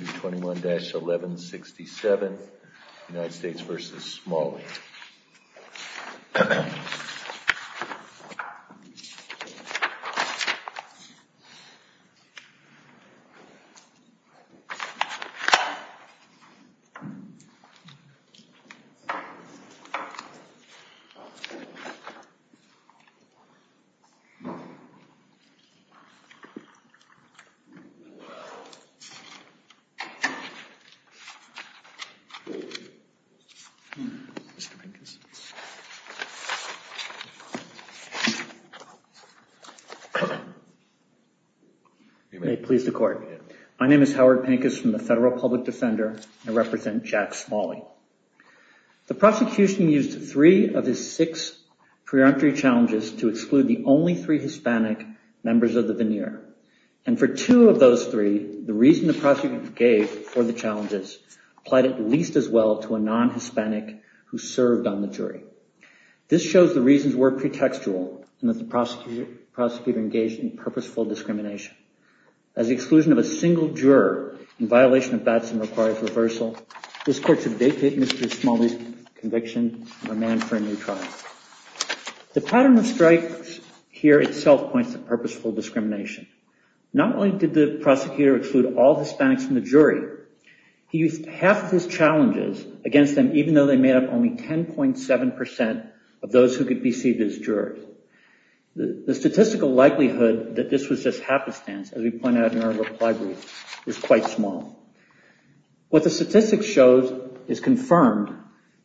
221-1167, United States v. Small League. My name is Howard Pankus from the Federal Public Defender and I represent Jack Smalley. The prosecution used three of his six preemptory challenges to exclude the only three Hispanic members of the veneer. For two of those three, the reason the prosecutor gave for the challenges applied at least as well to a non-Hispanic who served on the jury. This shows the reasons were pretextual and that the prosecutor engaged in purposeful discrimination. As the exclusion of a single juror in violation of Batson requires reversal, this court should vacate Mr. Smalley's conviction of a man-friendly trial. The pattern of strikes here itself points to purposeful discrimination. Not only did the prosecutor exclude all Hispanics from the jury, he used half of his challenges against them even though they made up only 10.7% of those who could be seen as jurors. The statistical likelihood that this was just happenstance, as we point out in our reply brief, is quite small. What the statistics show is confirmed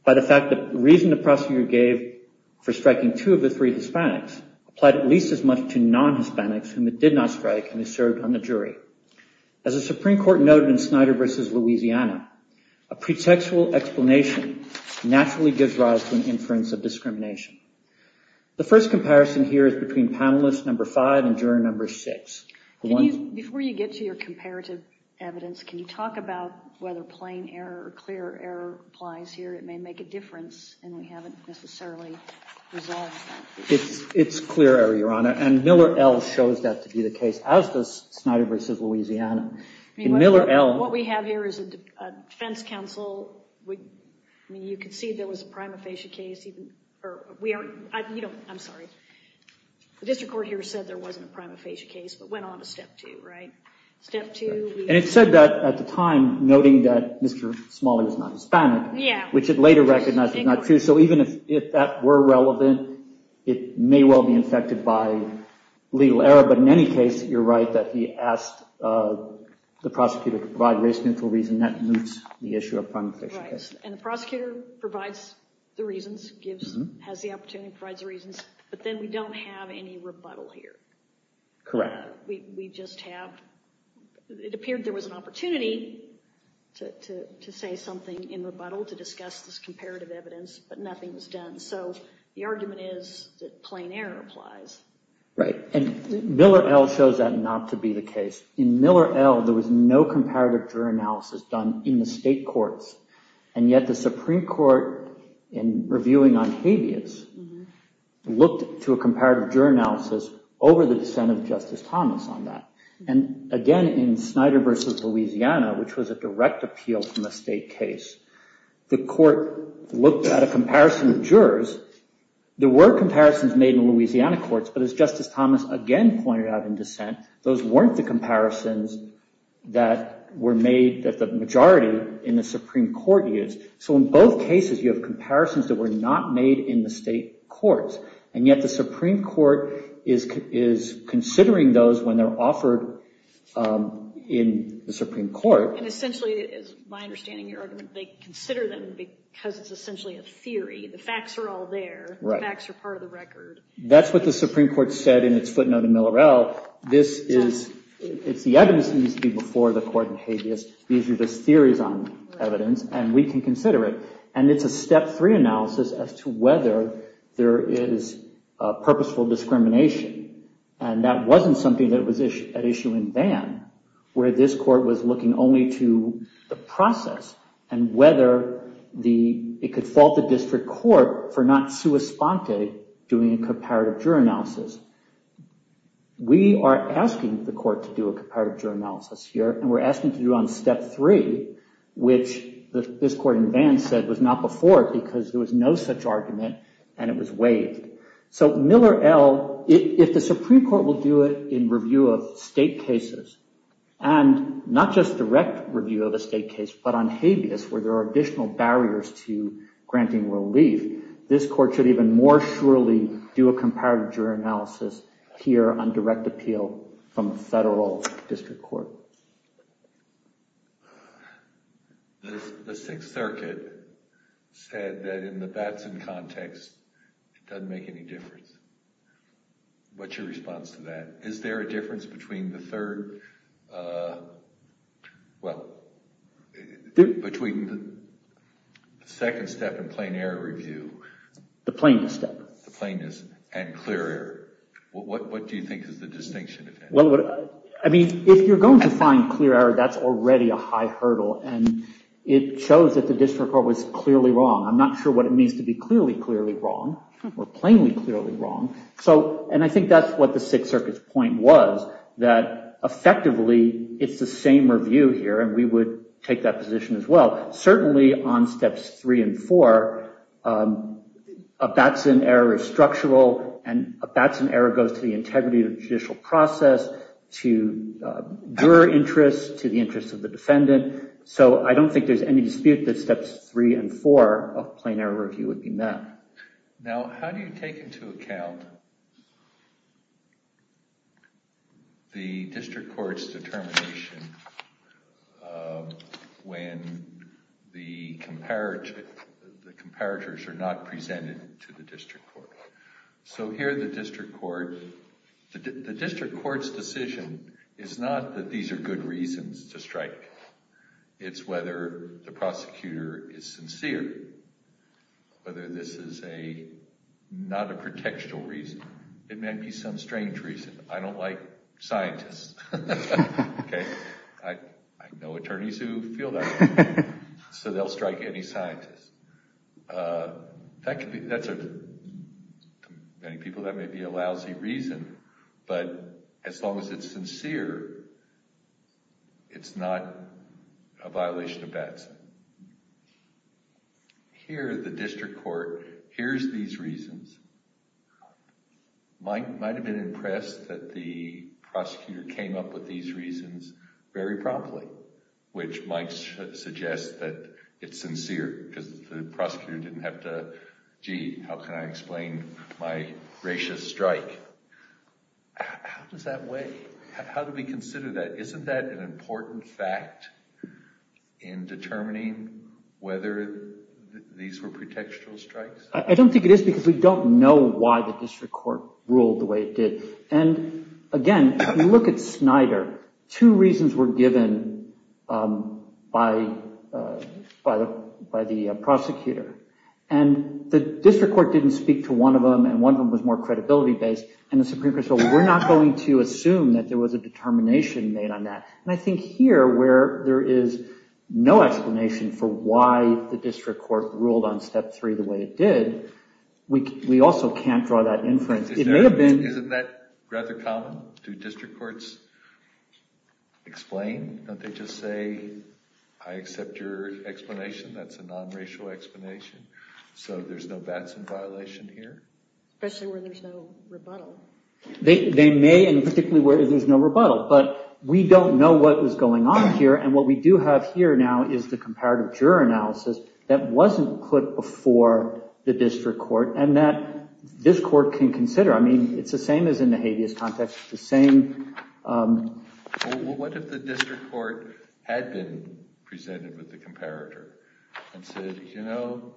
by the fact that the reason the prosecutor gave for striking two of the three Hispanics applied at least as much to non-Hispanics whom it did not strike and served on the jury. As the Supreme Court noted in Snyder v. Louisiana, a pretextual explanation naturally gives rise to an inference of discrimination. The first comparison here is between panelist number five and juror number six. Before you get to your comparative evidence, can you talk about whether plain error or clear error applies here? It may make a difference and we haven't necessarily resolved that. It's clear error, Your Honor, and Miller L. shows that to be the case as does Snyder v. Louisiana. In Miller L. What we have here is a defense counsel. You could see there was a prima facie case, or we are, I'm sorry, the district court here said there wasn't a prima facie case, but went on to step two, right? Step two. And it said that at the time, noting that Mr. Smalley was not Hispanic, which it later recognized was not true. So even if that were relevant, it may well be infected by legal error. But in any case, you're right that he asked the prosecutor to provide race-neutral reason. That moves the issue of prima facie case. Right. And the prosecutor provides the reasons, has the opportunity, provides the reasons, but then we don't have any rebuttal here. Correct. We just have, it appeared there was an opportunity to say something in rebuttal to discuss this comparative evidence, but nothing was done. So the argument is that plain error applies. Right. And Miller L. shows that not to be the case. In Miller L. there was no comparative juror analysis done in the state courts, and yet the Supreme Court, in reviewing on habeas, looked to a comparative juror analysis over the dissent of Justice Thomas on that. And again, in Snyder v. Louisiana, which was a direct appeal from a state case, the court looked at a comparison of jurors. There were comparisons made in Louisiana courts, but as Justice Thomas again pointed out in dissent, those weren't the comparisons that were made that the majority in the Supreme Court used. So in both cases, you have comparisons that were not made in the state courts. And yet the Supreme Court is considering those when they're offered in the Supreme Court. And essentially, it is my understanding, your argument, they consider them because it's essentially a theory. The facts are all there. Right. The facts are part of the record. That's what the Supreme Court said in its footnote in Miller L. This is, it's the evidence that needs to be before the court in habeas. These are just theories on evidence, and we can consider it. And it's a step three analysis as to whether there is purposeful discrimination. And that wasn't something that was at issue in Bann, where this court was looking only to the process and whether it could fault the district court for not sua sponte doing a comparative juror analysis. We are asking the court to do a comparative juror analysis here, and we're asking to do on step three, which this court in Bann said was not before because there was no such argument and it was waived. So Miller L., if the Supreme Court will do it in review of state cases, and not just direct review of a state case, but on habeas, where there are additional barriers to granting relief, this court should even more surely do a comparative juror analysis here on direct appeal from federal district court. The Sixth Circuit said that in the Batson context, it doesn't make any difference. What's your response to that? Is there a difference between the third, well, between the second step and plain error review? The plainness step. The plainness and clear error. What do you think is the distinction? Well, I mean, if you're going to find clear error, that's already a high hurdle, and it shows that the district court was clearly wrong. I'm not sure what it means to be clearly, clearly wrong or plainly, clearly wrong. And I think that's what the Sixth Circuit's point was, that effectively, it's the same review here and we would take that position as well. Certainly on steps three and four, a Batson error is structural and a Batson error goes to the integrity of the judicial process, to juror interests, to the interests of the defendant. So I don't think there's any dispute that steps three and four of plain error review would be met. Now, how do you take into account the district court's determination when the comparators are not presented to the district court? So here, the district court's decision is not that these are good reasons to strike. It's whether the prosecutor is sincere, whether this is not a protectional reason. It may be some strange reason. I don't like scientists, OK? I know attorneys who feel that way. So they'll strike any scientist. That could be, to many people, that may be a lousy reason, but as long as it's sincere, it's not a violation of Batson. Here the district court hears these reasons, might have been impressed that the prosecutor came up with these reasons very promptly, which might suggest that it's sincere because the prosecutor didn't have to, gee, how can I explain my gracious strike? How does that weigh? How do we consider that? Isn't that an important fact in determining whether these were protectional strikes? I don't think it is because we don't know why the district court ruled the way it did. And again, if you look at Snyder, two reasons were given by the prosecutor, and the district court didn't speak to one of them, and one of them was more credibility-based, and the there was a determination made on that. And I think here, where there is no explanation for why the district court ruled on step three the way it did, we also can't draw that inference. It may have been- Isn't that rather common? Do district courts explain? Don't they just say, I accept your explanation. That's a non-racial explanation. So there's no Batson violation here? Especially where there's no rebuttal. They may, and particularly where there's no rebuttal. But we don't know what was going on here, and what we do have here now is the comparative juror analysis that wasn't put before the district court, and that this court can consider. I mean, it's the same as in the habeas context, it's the same- What if the district court had been presented with the comparator, and said, you know,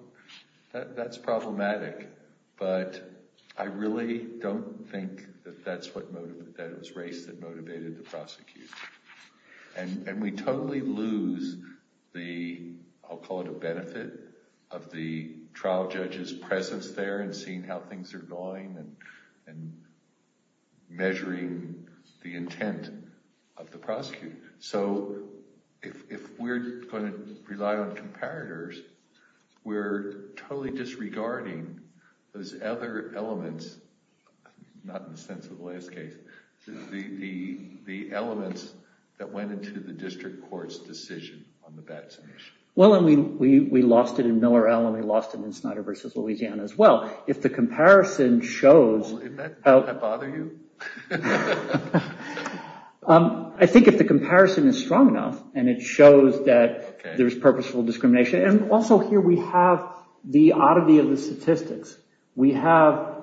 that's problematic, but I really don't think that that's what motivated, that it was race that motivated the prosecutor. And we totally lose the, I'll call it a benefit, of the trial judge's presence there, and seeing how things are going, and measuring the intent of the prosecutor. So if we're going to rely on comparators, we're totally disregarding those other elements, not in the sense of the last case, the elements that went into the district court's decision on the Batson issue. Well, and we lost it in Miller-Allen, we lost it in Snyder v. Louisiana as well. If the comparison shows- Doesn't that bother you? I think if the comparison is strong enough, and it shows that there's purposeful discrimination, and also here we have the oddity of the statistics. We have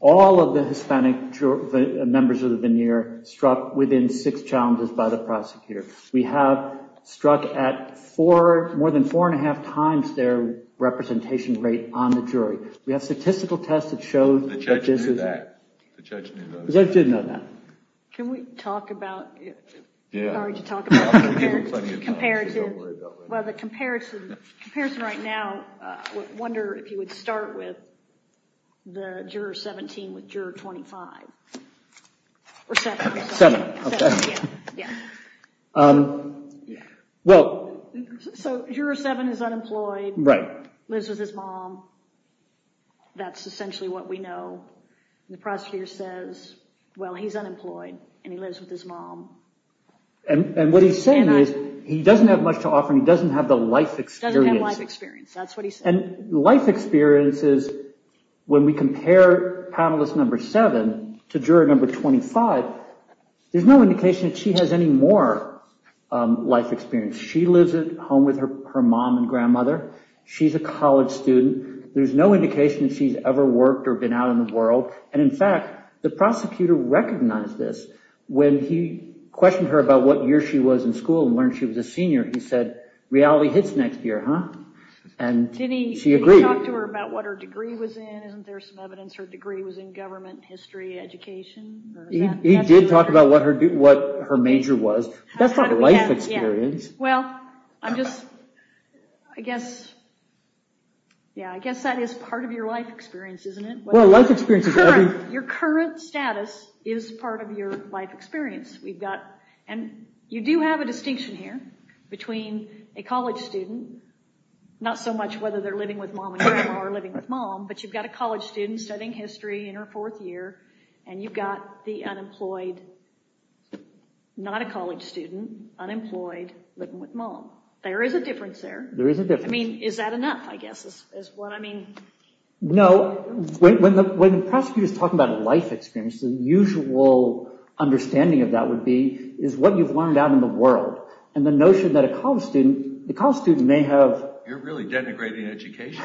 all of the Hispanic members of the veneer struck within six challenges by the prosecutor. We have struck at four, more than four and a half times their representation rate on the jury. We have statistical tests that show that this is- The judge knew that. The judge did know that. Can we talk about- Yeah. Sorry to talk about- I'm going to give you plenty of time. Don't worry about it. Well, the comparison right now, I wonder if you would start with the Juror 17 with Juror 25. Or 7. 7. 7, yeah. Yeah. Well- So, Juror 7 is unemployed. Right. Lives with his mom. That's essentially what we know. The prosecutor says, well, he's unemployed, and he lives with his mom. And what he's saying is, he doesn't have much to offer, and he doesn't have the life experience. Doesn't have life experience. That's what he said. And life experience is, when we compare Panelist 7 to Juror 25, there's no indication that she has any more life experience. She lives at home with her mom and grandmother. She's a college student. There's no indication that she's ever worked or been out in the world. And in fact, the prosecutor recognized this when he questioned her about what year she was in school and learned she was a senior. He said, reality hits next year, huh? And she agreed. Did he talk to her about what her degree was in? Isn't there some evidence her degree was in government, history, education? He did talk about what her major was, but that's not life experience. Well, I guess that is part of your life experience, isn't it? Your current status is part of your life experience. You do have a distinction here between a college student, not so much whether they're living with mom and grandma or living with mom, but you've got a college student studying history in her fourth year, and you've got the unemployed, not a college student, unemployed, living with mom. There is a difference there. There is a difference. I mean, is that enough, I guess, is what I mean? No. When the prosecutor is talking about life experience, the usual understanding of that would be is what you've learned out in the world. And the notion that a college student, the college student may have... You're really denigrating education.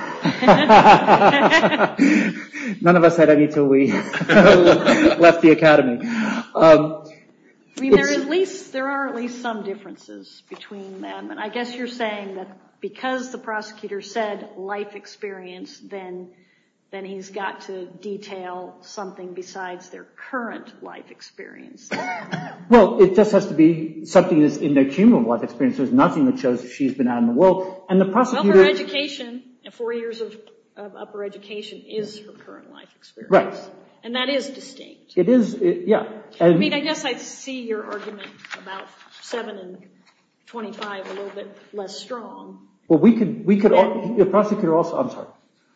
None of us had any until we left the academy. I mean, there are at least some differences between them, and I guess you're saying that because the prosecutor said life experience, then he's got to detail something besides their current life experience. Well, it just has to be something that's in their cumulative life experience. There's nothing that shows she's been out in the world. And the prosecutor... Well, her education, four years of upper education, is her current life experience. Right. And that is distinct. It is, yeah. I mean, I guess I see your argument about seven and 25 a little bit less strong. Well, we could... The prosecutor also... I'm sorry.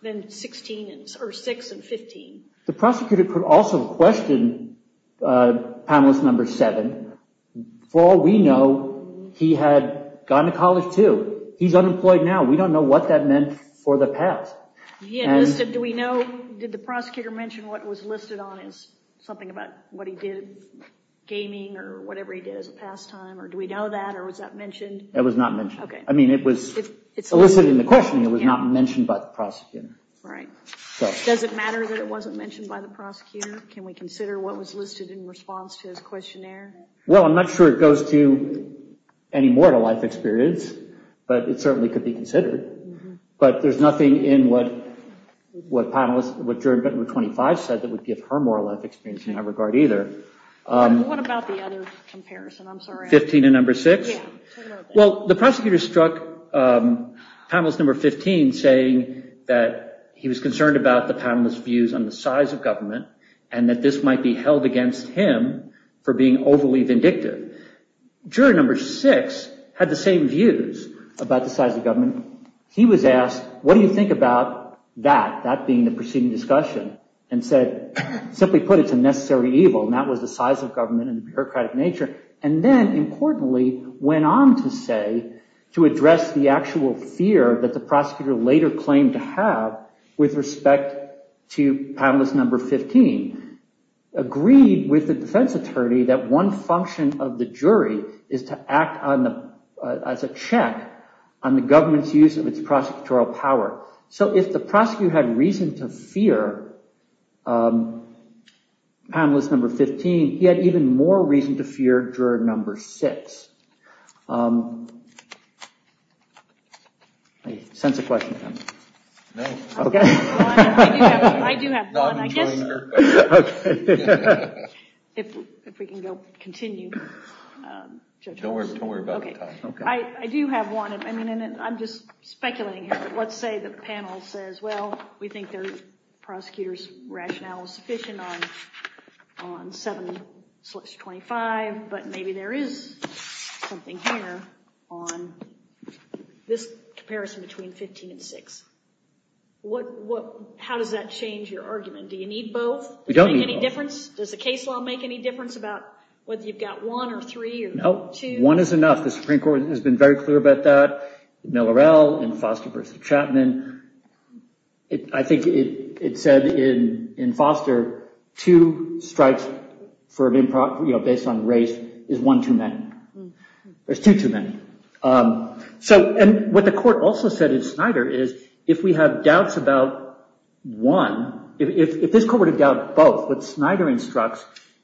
Than 16, or six and 15. The prosecutor could also question panelist number seven. For all we know, he had gone to college, too. He's unemployed now. We don't know what that meant for the past. He had listed... Do we know... Did the prosecutor mention what was listed on his... Something about what he did, gaming, or whatever he did as a pastime, or do we know that, or was that mentioned? It was not mentioned. Okay. I mean, it was... It's listed in the questioning. It was not mentioned by the prosecutor. Right. Does it matter that it wasn't mentioned by the prosecutor? Can we consider what was listed in response to his questionnaire? Well, I'm not sure it goes to any moral life experience, but it certainly could be considered. But there's nothing in what panelist... What juror number 25 said that would give her moral life experience in that regard either. What about the other comparison? I'm sorry. 15 and number six? Yeah. Turn it over. Well, the prosecutor struck panelist number 15, saying that he was concerned about the panelist's views on the size of government, and that this might be held against him for being overly vindictive. Juror number six had the same views about the size of government. He was asked, what do you think about that? That being the proceeding discussion, and said, simply put, it's a necessary evil, and that was the size of government and the bureaucratic nature. And then, importantly, went on to say, to address the actual fear that the prosecutor later claimed to have with respect to panelist number 15, agreed with the defense attorney that one function of the jury is to act as a check on the government's use of its prosecutorial power. So, if the prosecutor had reason to fear panelist number 15, he had even more reason to fear juror number six. Any sense of question, Pam? No. Okay. I do have one. I guess... Okay. If we can go, continue. Don't worry about the time. Okay. I do have one. I'm just speculating here. Let's say the panel says, well, we think the prosecutor's rationale is sufficient on 7-25, but maybe there is something here on this comparison between 15 and 6. How does that change your argument? Do you need both? We don't need both. Does it make any difference? Does the case law make any difference about whether you've got one, or three, or two? No. One is enough. The Supreme Court has been very clear about that, with Miller-El, and Foster v. Chapman. I think it said in Foster, two strikes based on race is one too many, or two too many. And what the court also said in Snyder is, if we have doubts about one, if this court had doubted both, what Snyder instructs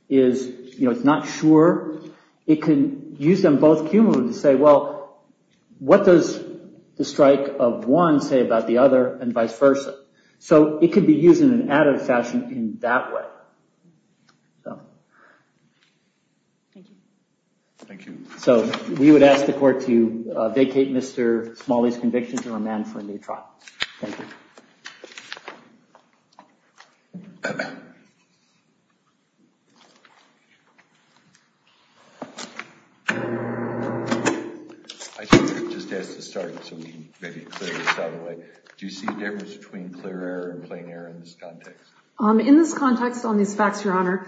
is, it's not sure. It could use them both cumulatively to say, well, what does the strike of one say about the other, and vice versa? So it could be used in an additive fashion in that way. So we would ask the court to vacate Mr. Smalley's conviction to remand for a new trial. Thank you. I think we've just asked to start, so we can maybe clear this out of the way. Do you see a difference between clear error and plain error in this context? In this context, on these facts, Your Honor,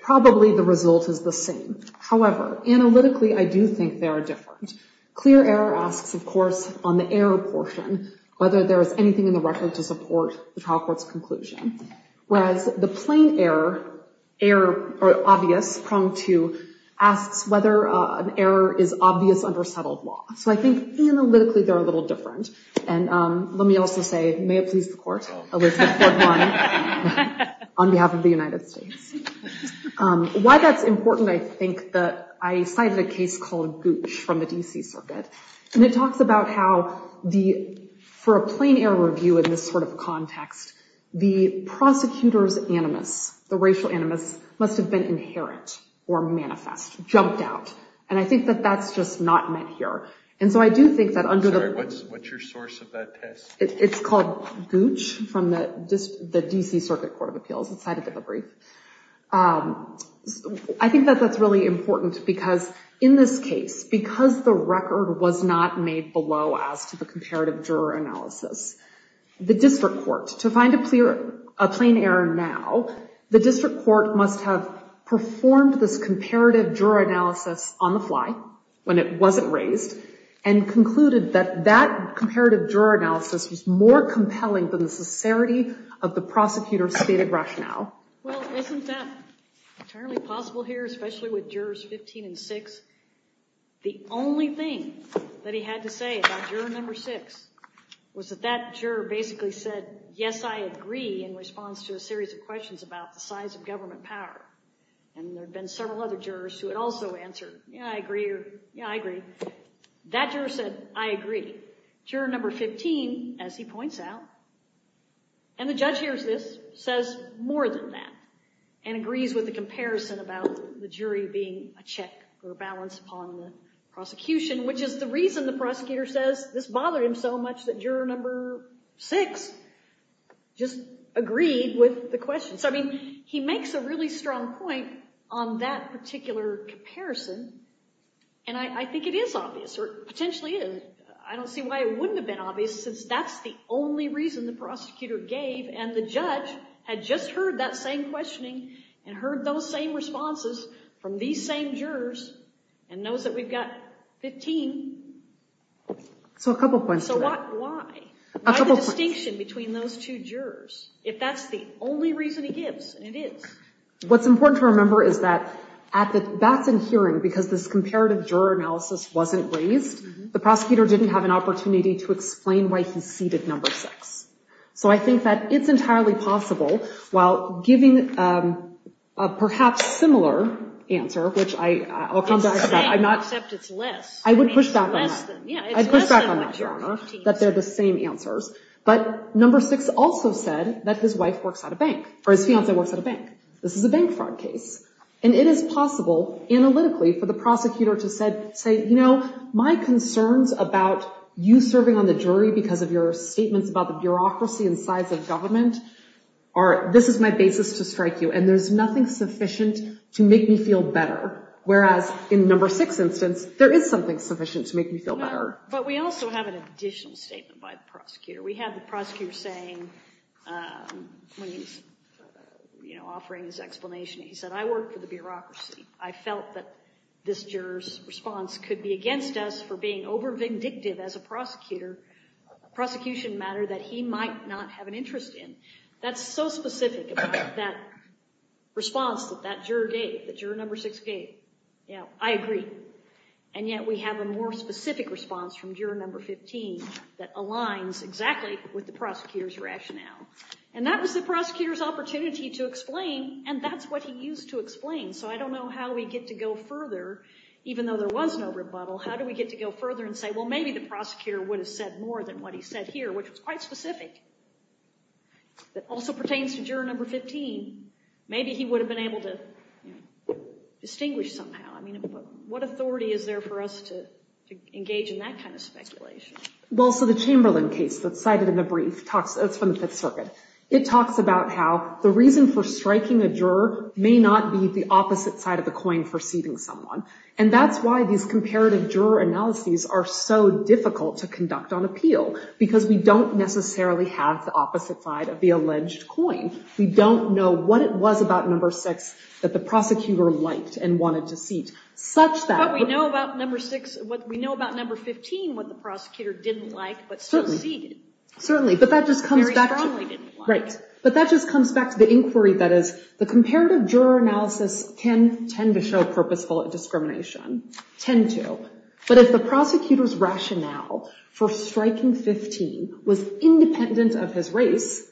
probably the result is the same. However, analytically, I do think they are different. Clear error asks, of course, on the error portion, whether there is anything in the record to support the trial court's conclusion. Whereas the plain error, or obvious, pronged to, asks whether an error is obvious under settled law. So I think analytically, they're a little different. And let me also say, may it please the court, I would report one on behalf of the United States. Why that's important, I think, that I cited a case called Gooch from the DC Circuit. And it talks about how, for a plain error review in this sort of context, the prosecutor's animus, the racial animus, must have been inherent or manifest, jumped out. And I think that that's just not met here. And so I do think that under the- Sorry, what's your source of that test? It's called Gooch from the DC Circuit Court of Appeals. It's cited in the brief. I think that that's really important because, in this case, because the record was not made below as to the comparative juror analysis, the district court, to find a plain error now, the district court must have performed this comparative juror analysis on the fly when it wasn't raised, and concluded that that comparative juror analysis was more compelling than the sincerity of the prosecutor's stated rationale. Well, isn't that entirely possible here, especially with jurors 15 and 6? The only thing that he had to say about juror number 6 was that that juror basically said, yes, I agree, in response to a series of questions about the size of government power. And there had been several other jurors who had also answered, yeah, I agree, or yeah, I agree. That juror said, I agree. Juror number 15, as he points out, and the judge hears this, says more than that, and agrees with the comparison about the jury being a check or a balance upon the prosecution, which is the reason the prosecutor says this bothered him so much that juror number 6 just agreed with the question. So, I mean, he makes a really strong point on that particular comparison, and I think it is obvious, or potentially is. I don't see why it wouldn't have been obvious, since that's the only reason the prosecutor gave, and the judge had just heard that same questioning, and heard those same responses from these same jurors, and knows that we've got 15. So a couple points to that. So why? Why the distinction between those two jurors? If that's the only reason he gives, and it is. What's important to remember is that at the Batson hearing, because this comparative juror analysis wasn't raised, the prosecutor didn't have an opportunity to explain why he ceded number 6. So I think that it's entirely possible, while giving a perhaps similar answer, which I'll come back to that. It's the same, except it's less. I would push back on that. Less than, yeah. I'd push back on that, Your Honor, that they're the same answers. But number 6 also said that his wife works at a bank, or his fiancée works at a bank. This is a bank fraud case. And it is possible, analytically, for the prosecutor to say, you know, my concerns about you serving on the jury because of your statements about the bureaucracy and size of government, this is my basis to strike you, and there's nothing sufficient to make me feel better. Whereas in number 6's instance, there is something sufficient to make me feel better. But we also have an additional statement by the prosecutor. We have the prosecutor saying, offering his explanation, he said, I work for the bureaucracy. I felt that this juror's response could be against us for being over-vindictive as a prosecutor, a prosecution matter that he might not have an interest in. That's so specific about that response that that juror gave, that juror number 6 gave. I agree. And yet, we have a more specific response from juror number 15 that aligns exactly with the prosecutor's rationale. And that was the prosecutor's opportunity to explain, and that's what he used to explain. So I don't know how we get to go further, even though there was no rebuttal, how do we get to go further and say, well, maybe the prosecutor would have said more than what he said here, which was quite specific, but also pertains to juror number 15. Maybe he would have been able to distinguish somehow. What authority is there for us to engage in that kind of speculation? Well, so the Chamberlain case that's cited in the brief, that's from the Fifth Circuit, it talks about how the reason for striking a juror may not be the opposite side of the coin for seating someone. And that's why these comparative juror analyses are so difficult to conduct on appeal, because we don't necessarily have the opposite side of the alleged coin. We don't know what it was about number 6 that the prosecutor liked and wanted to seat. But we know about number 6, we know about number 15, what the prosecutor didn't like, but still seated. Certainly, but that just comes back to the inquiry that is, the comparative juror analysis can tend to show purposeful discrimination, tend to, but if the prosecutor's rationale for striking 15 was independent of his race,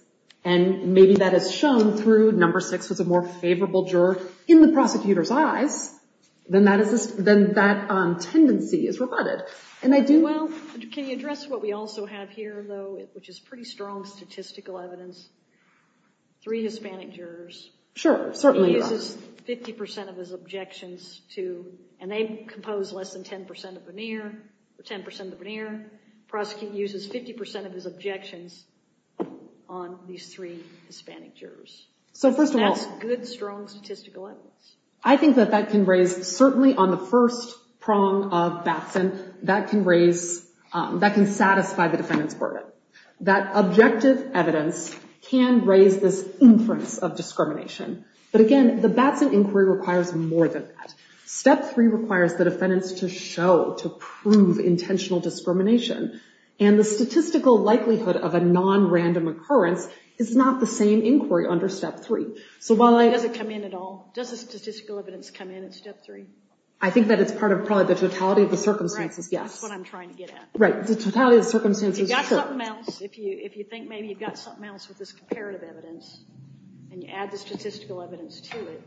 and maybe that is shown through number 6 was a more favorable juror in the prosecutor's eyes, then that tendency is reverted. And I do... Well, can you address what we also have here, though, which is pretty strong statistical evidence? Three Hispanic jurors. Sure, certainly. He uses 50% of his objections to, and they compose less than 10% of the veneer, 10% of the veneer. The prosecutor uses 50% of his objections on these three Hispanic jurors. So first of all... That's good, strong statistical evidence. I think that that can raise, certainly on the first prong of Batson, that can raise, that can satisfy the defendant's burden, that objective evidence can raise this inference of discrimination. But again, the Batson inquiry requires more than that. Step 3 requires the defendants to show, to prove intentional discrimination, and the So while I... Does it come in at all? Does the statistical evidence come in at step 3? I think that it's part of probably the totality of the circumstances, yes. That's what I'm trying to get at. Right. The totality of the circumstances... If you've got something else, if you think maybe you've got something else with this comparative evidence, and you add the statistical evidence to it...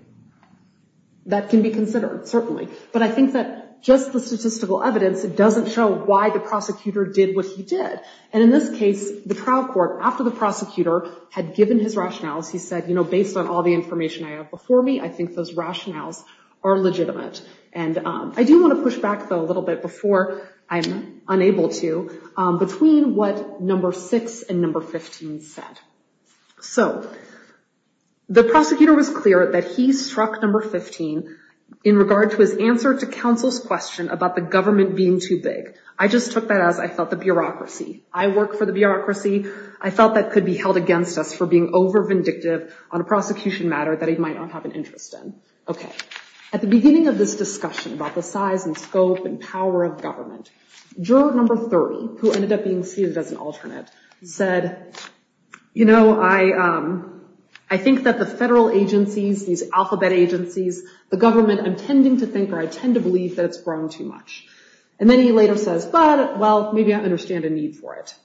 That can be considered, certainly. But I think that just the statistical evidence, it doesn't show why the prosecutor did what he did. And in this case, the trial court, after the prosecutor had given his rationales, he said, you know, based on all the information I have before me, I think those rationales are legitimate. And I do want to push back, though, a little bit before I'm unable to, between what number 6 and number 15 said. So the prosecutor was clear that he struck number 15 in regard to his answer to counsel's question about the government being too big. I just took that as, I felt, the bureaucracy. I work for the bureaucracy. I felt that could be held against us for being over-vindictive on a prosecution matter that he might not have an interest in. Okay. At the beginning of this discussion about the size and scope and power of government, juror number 30, who ended up being seated as an alternate, said, you know, I think that the federal agencies, these alphabet agencies, the government, I'm tending to think or I tend to believe that it's grown too much. And then he later says, but, well, maybe I understand a need for it.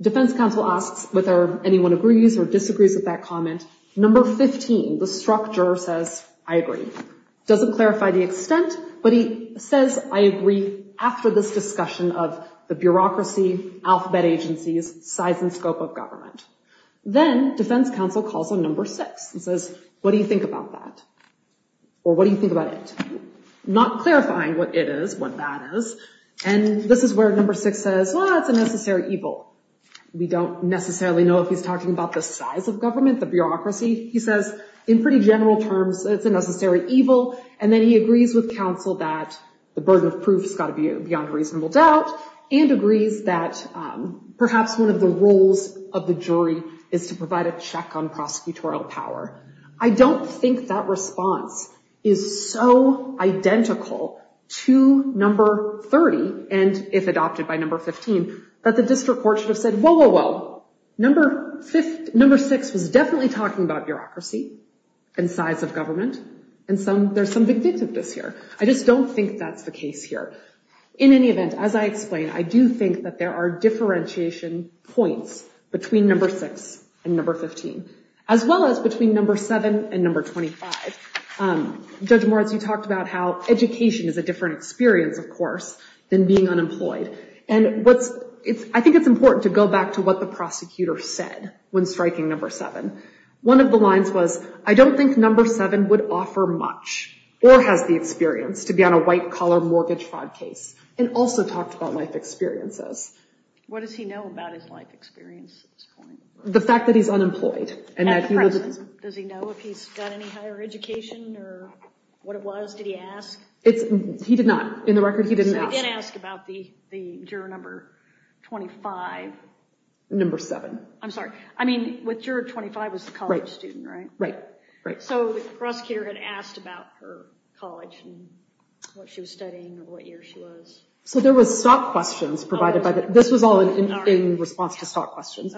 Defense counsel asks whether anyone agrees or disagrees with that comment. Number 15, the struck juror says, I agree. Doesn't clarify the extent, but he says, I agree after this discussion of the bureaucracy, alphabet agencies, size and scope of government. Then defense counsel calls on number 6 and says, what do you think about that? Or what do you think about it? Not clarifying what it is, what that is. And this is where number 6 says, well, it's a necessary evil. We don't necessarily know if he's talking about the size of government, the bureaucracy. He says, in pretty general terms, it's a necessary evil. And then he agrees with counsel that the burden of proof has got to be beyond reasonable doubt and agrees that perhaps one of the roles of the jury is to provide a check on prosecutorial power. I don't think that response is so identical to number 30, and if adopted by number 15, that the district court should have said, whoa, whoa, whoa, number 6 was definitely talking about bureaucracy and size of government, and there's some vindictiveness here. I just don't think that's the case here. In any event, as I explained, I do think that there are differentiation points between number 6 and number 15, as well as between number 7 and number 25. Judge Moritz, you talked about how education is a different experience, of course, than being unemployed. And I think it's important to go back to what the prosecutor said when striking number 7. One of the lines was, I don't think number 7 would offer much or has the experience to be on a white-collar mortgage-fraud case, and also talked about life experiences. What does he know about his life experience at this point? The fact that he's unemployed. At present, does he know if he's got any higher education, or what it was, did he ask? He did not. In the record, he didn't ask. So he didn't ask about the juror number 25? Number 7. I'm sorry. I mean, with juror 25, it was the college student, right? Right, right. So the prosecutor had asked about her college, and what she was studying, or what year she was. So there was stock questions provided by the... This was all in response to stock questions.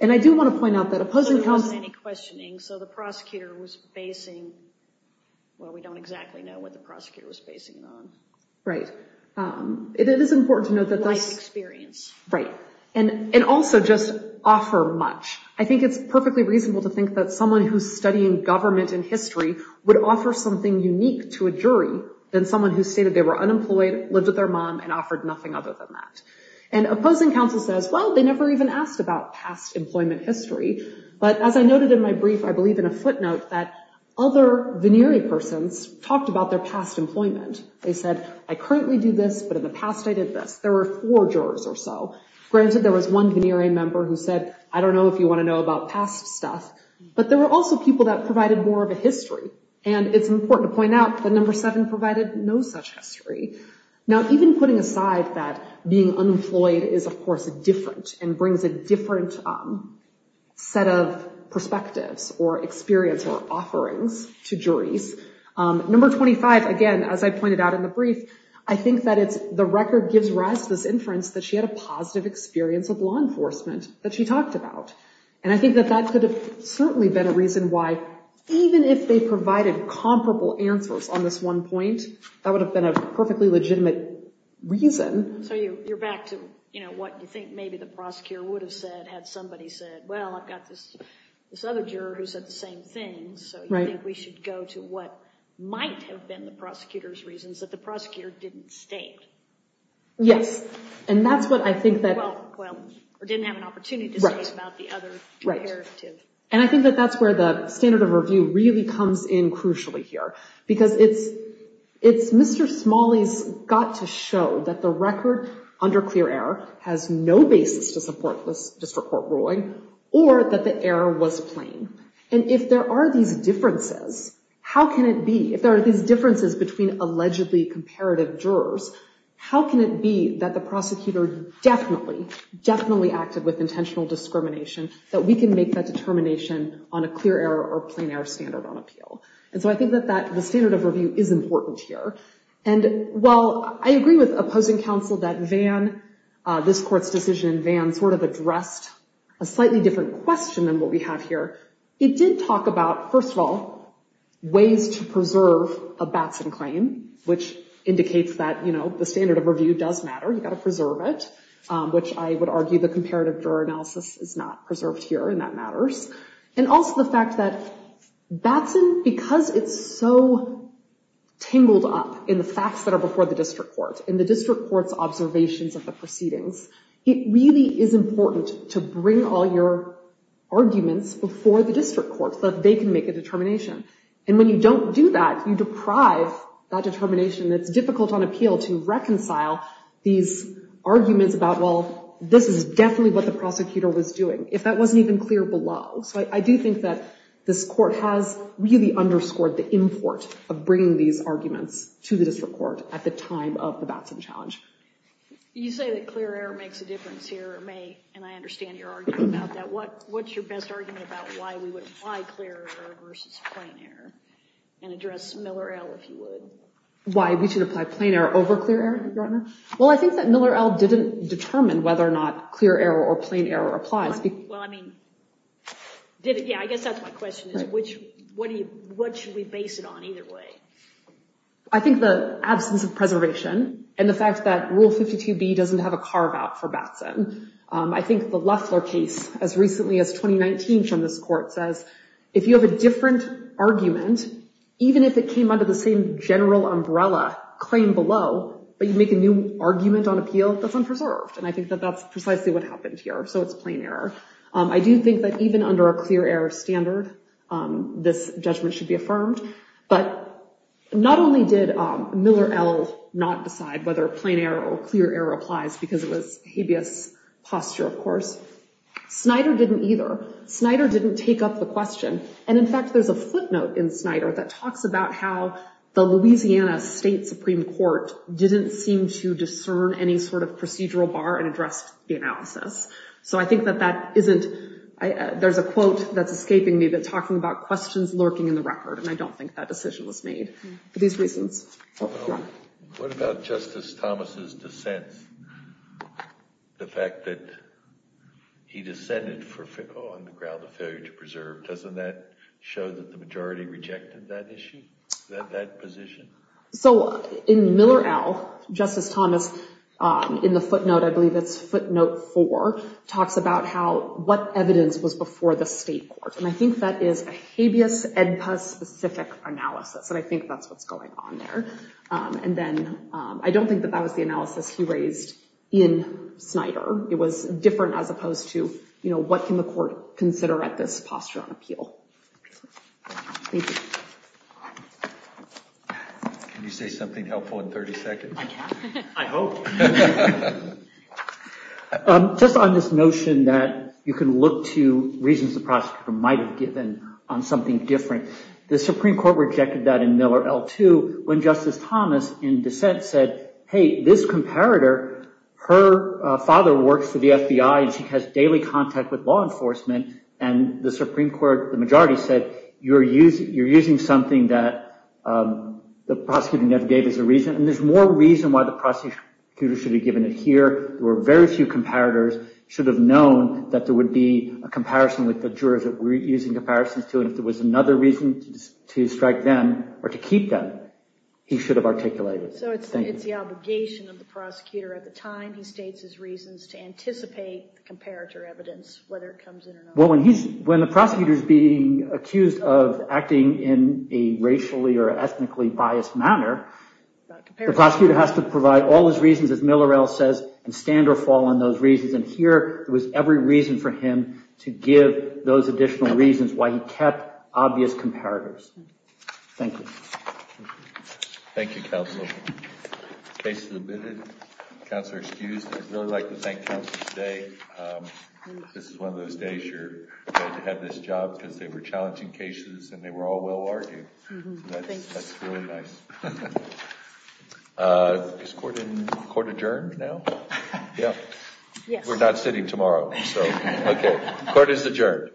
And I do want to point out that... So there wasn't any questioning. So the prosecutor was basing, well, we don't exactly know what the prosecutor was basing it on. Right. It is important to note that this... Life experience. Right. And also, just offer much. I think it's perfectly reasonable to think that someone who's studying government and history would offer something unique to a jury than someone who stated they were unemployed, lived with their mom, and offered nothing other than that. And opposing counsel says, well, they never even asked about past employment history. But as I noted in my brief, I believe in a footnote that other venerey persons talked about their past employment. They said, I currently do this, but in the past, I did this. There were four jurors or so. Granted, there was one venerey member who said, I don't know if you want to know about past stuff. But there were also people that provided more of a history. And it's important to point out that number seven provided no such history. Now, even putting aside that being unemployed is, of course, different and brings a different set of perspectives or experience or offerings to juries. Number 25, again, as I pointed out in the brief, I think that it's the record gives rise to this inference that she had a positive experience of law enforcement that she talked about. And I think that that could have certainly been a reason why, even if they provided comparable answers on this one point, that would have been a perfectly legitimate reason. So you're back to, you know, what you think maybe the prosecutor would have said had somebody said, well, I've got this other juror who said the same thing, so you think we should go to what might have been the prosecutor's reasons that the prosecutor didn't state. Yes. And that's what I think that... Right. And I think that that's where the standard of review really comes in crucially here, because it's Mr. Smalley's got to show that the record under clear error has no basis to support this district court ruling or that the error was plain. And if there are these differences, how can it be, if there are these differences between allegedly comparative jurors, how can it be that the prosecutor definitely, definitely interacted with intentional discrimination, that we can make that determination on a clear error or plain error standard on appeal? And so I think that the standard of review is important here. And while I agree with opposing counsel that Van, this court's decision, Van sort of addressed a slightly different question than what we have here. It did talk about, first of all, ways to preserve a Batson claim, which indicates that, you know, the standard of review does matter. You've got to preserve it, which I would argue the comparative juror analysis is not preserved here, and that matters. And also the fact that Batson, because it's so tangled up in the facts that are before the district court, in the district court's observations of the proceedings, it really is important to bring all your arguments before the district court, so that they can make a determination. And when you don't do that, you deprive that determination that's difficult on appeal to these arguments about, well, this is definitely what the prosecutor was doing, if that wasn't even clear below. So I do think that this court has really underscored the import of bringing these arguments to the district court at the time of the Batson challenge. You say that clear error makes a difference here, May, and I understand your argument about that. What's your best argument about why we would apply clear error versus plain error? And address Miller-Ell, if you would. Why we should apply plain error over clear error, Your Honor? Well, I think that Miller-Ell didn't determine whether or not clear error or plain error applies. Well, I mean, yeah, I guess that's my question, is what should we base it on either way? I think the absence of preservation and the fact that Rule 52B doesn't have a carve-out for Batson. I think the Loeffler case, as recently as 2019 from this court, says if you have a different argument, even if it came under the same general umbrella, claim below, but you make a new argument on appeal, that's unpreserved. And I think that that's precisely what happened here. So it's plain error. I do think that even under a clear error standard, this judgment should be affirmed. But not only did Miller-Ell not decide whether plain error or clear error applies because it was habeas posture, of course, Snyder didn't either. Snyder didn't take up the question. And in fact, there's a footnote in Snyder that talks about how the Louisiana State Supreme Court didn't seem to discern any sort of procedural bar and addressed the analysis. So I think that that isn't—there's a quote that's escaping me that's talking about questions lurking in the record. And I don't think that decision was made for these reasons. What about Justice Thomas's dissent? The fact that he dissented on the ground of failure to preserve, doesn't that show that the majority rejected that issue, that position? So in Miller-Ell, Justice Thomas, in the footnote, I believe it's footnote four, talks about how—what evidence was before the state court. And I think that is a habeas edpa-specific analysis, and I think that's what's going on there. And then I don't think that that was the analysis he raised in Snyder. It was different as opposed to, you know, what can the court consider at this posture on appeal? Thank you. Can you say something helpful in 30 seconds? I can. I hope. Just on this notion that you can look to reasons the prosecutor might have given on something different, the Supreme Court rejected that in Miller-Ell, too, when Justice Thomas, in dissent, said, hey, this comparator, her father works for the FBI and she has daily contact with law enforcement, and the Supreme Court, the majority said, you're using something that the prosecutor never gave as a reason, and there's more reason why the prosecutor should have given it here. There were very few comparators, should have known that there would be a comparison with the jurors that we're using comparisons to, and if there was another reason to strike them or to keep them, he should have articulated it. So it's the obligation of the prosecutor at the time, he states his reasons, to anticipate the comparator evidence, whether it comes in or not. Well, when the prosecutor's being accused of acting in a racially or ethnically biased manner, the prosecutor has to provide all his reasons, as Miller-Ell says, and stand or fall on those reasons, and here was every reason for him to give those additional reasons why he kept obvious comparators. Thank you. Thank you, counsel. The case is admitted. Counselor excused. I'd really like to thank counsel today. This is one of those days you're going to have this job because they were challenging cases and they were all well argued. That's really nice. Is court adjourned now? Yeah. Yes. We're not sitting tomorrow. So, okay. Court is adjourned.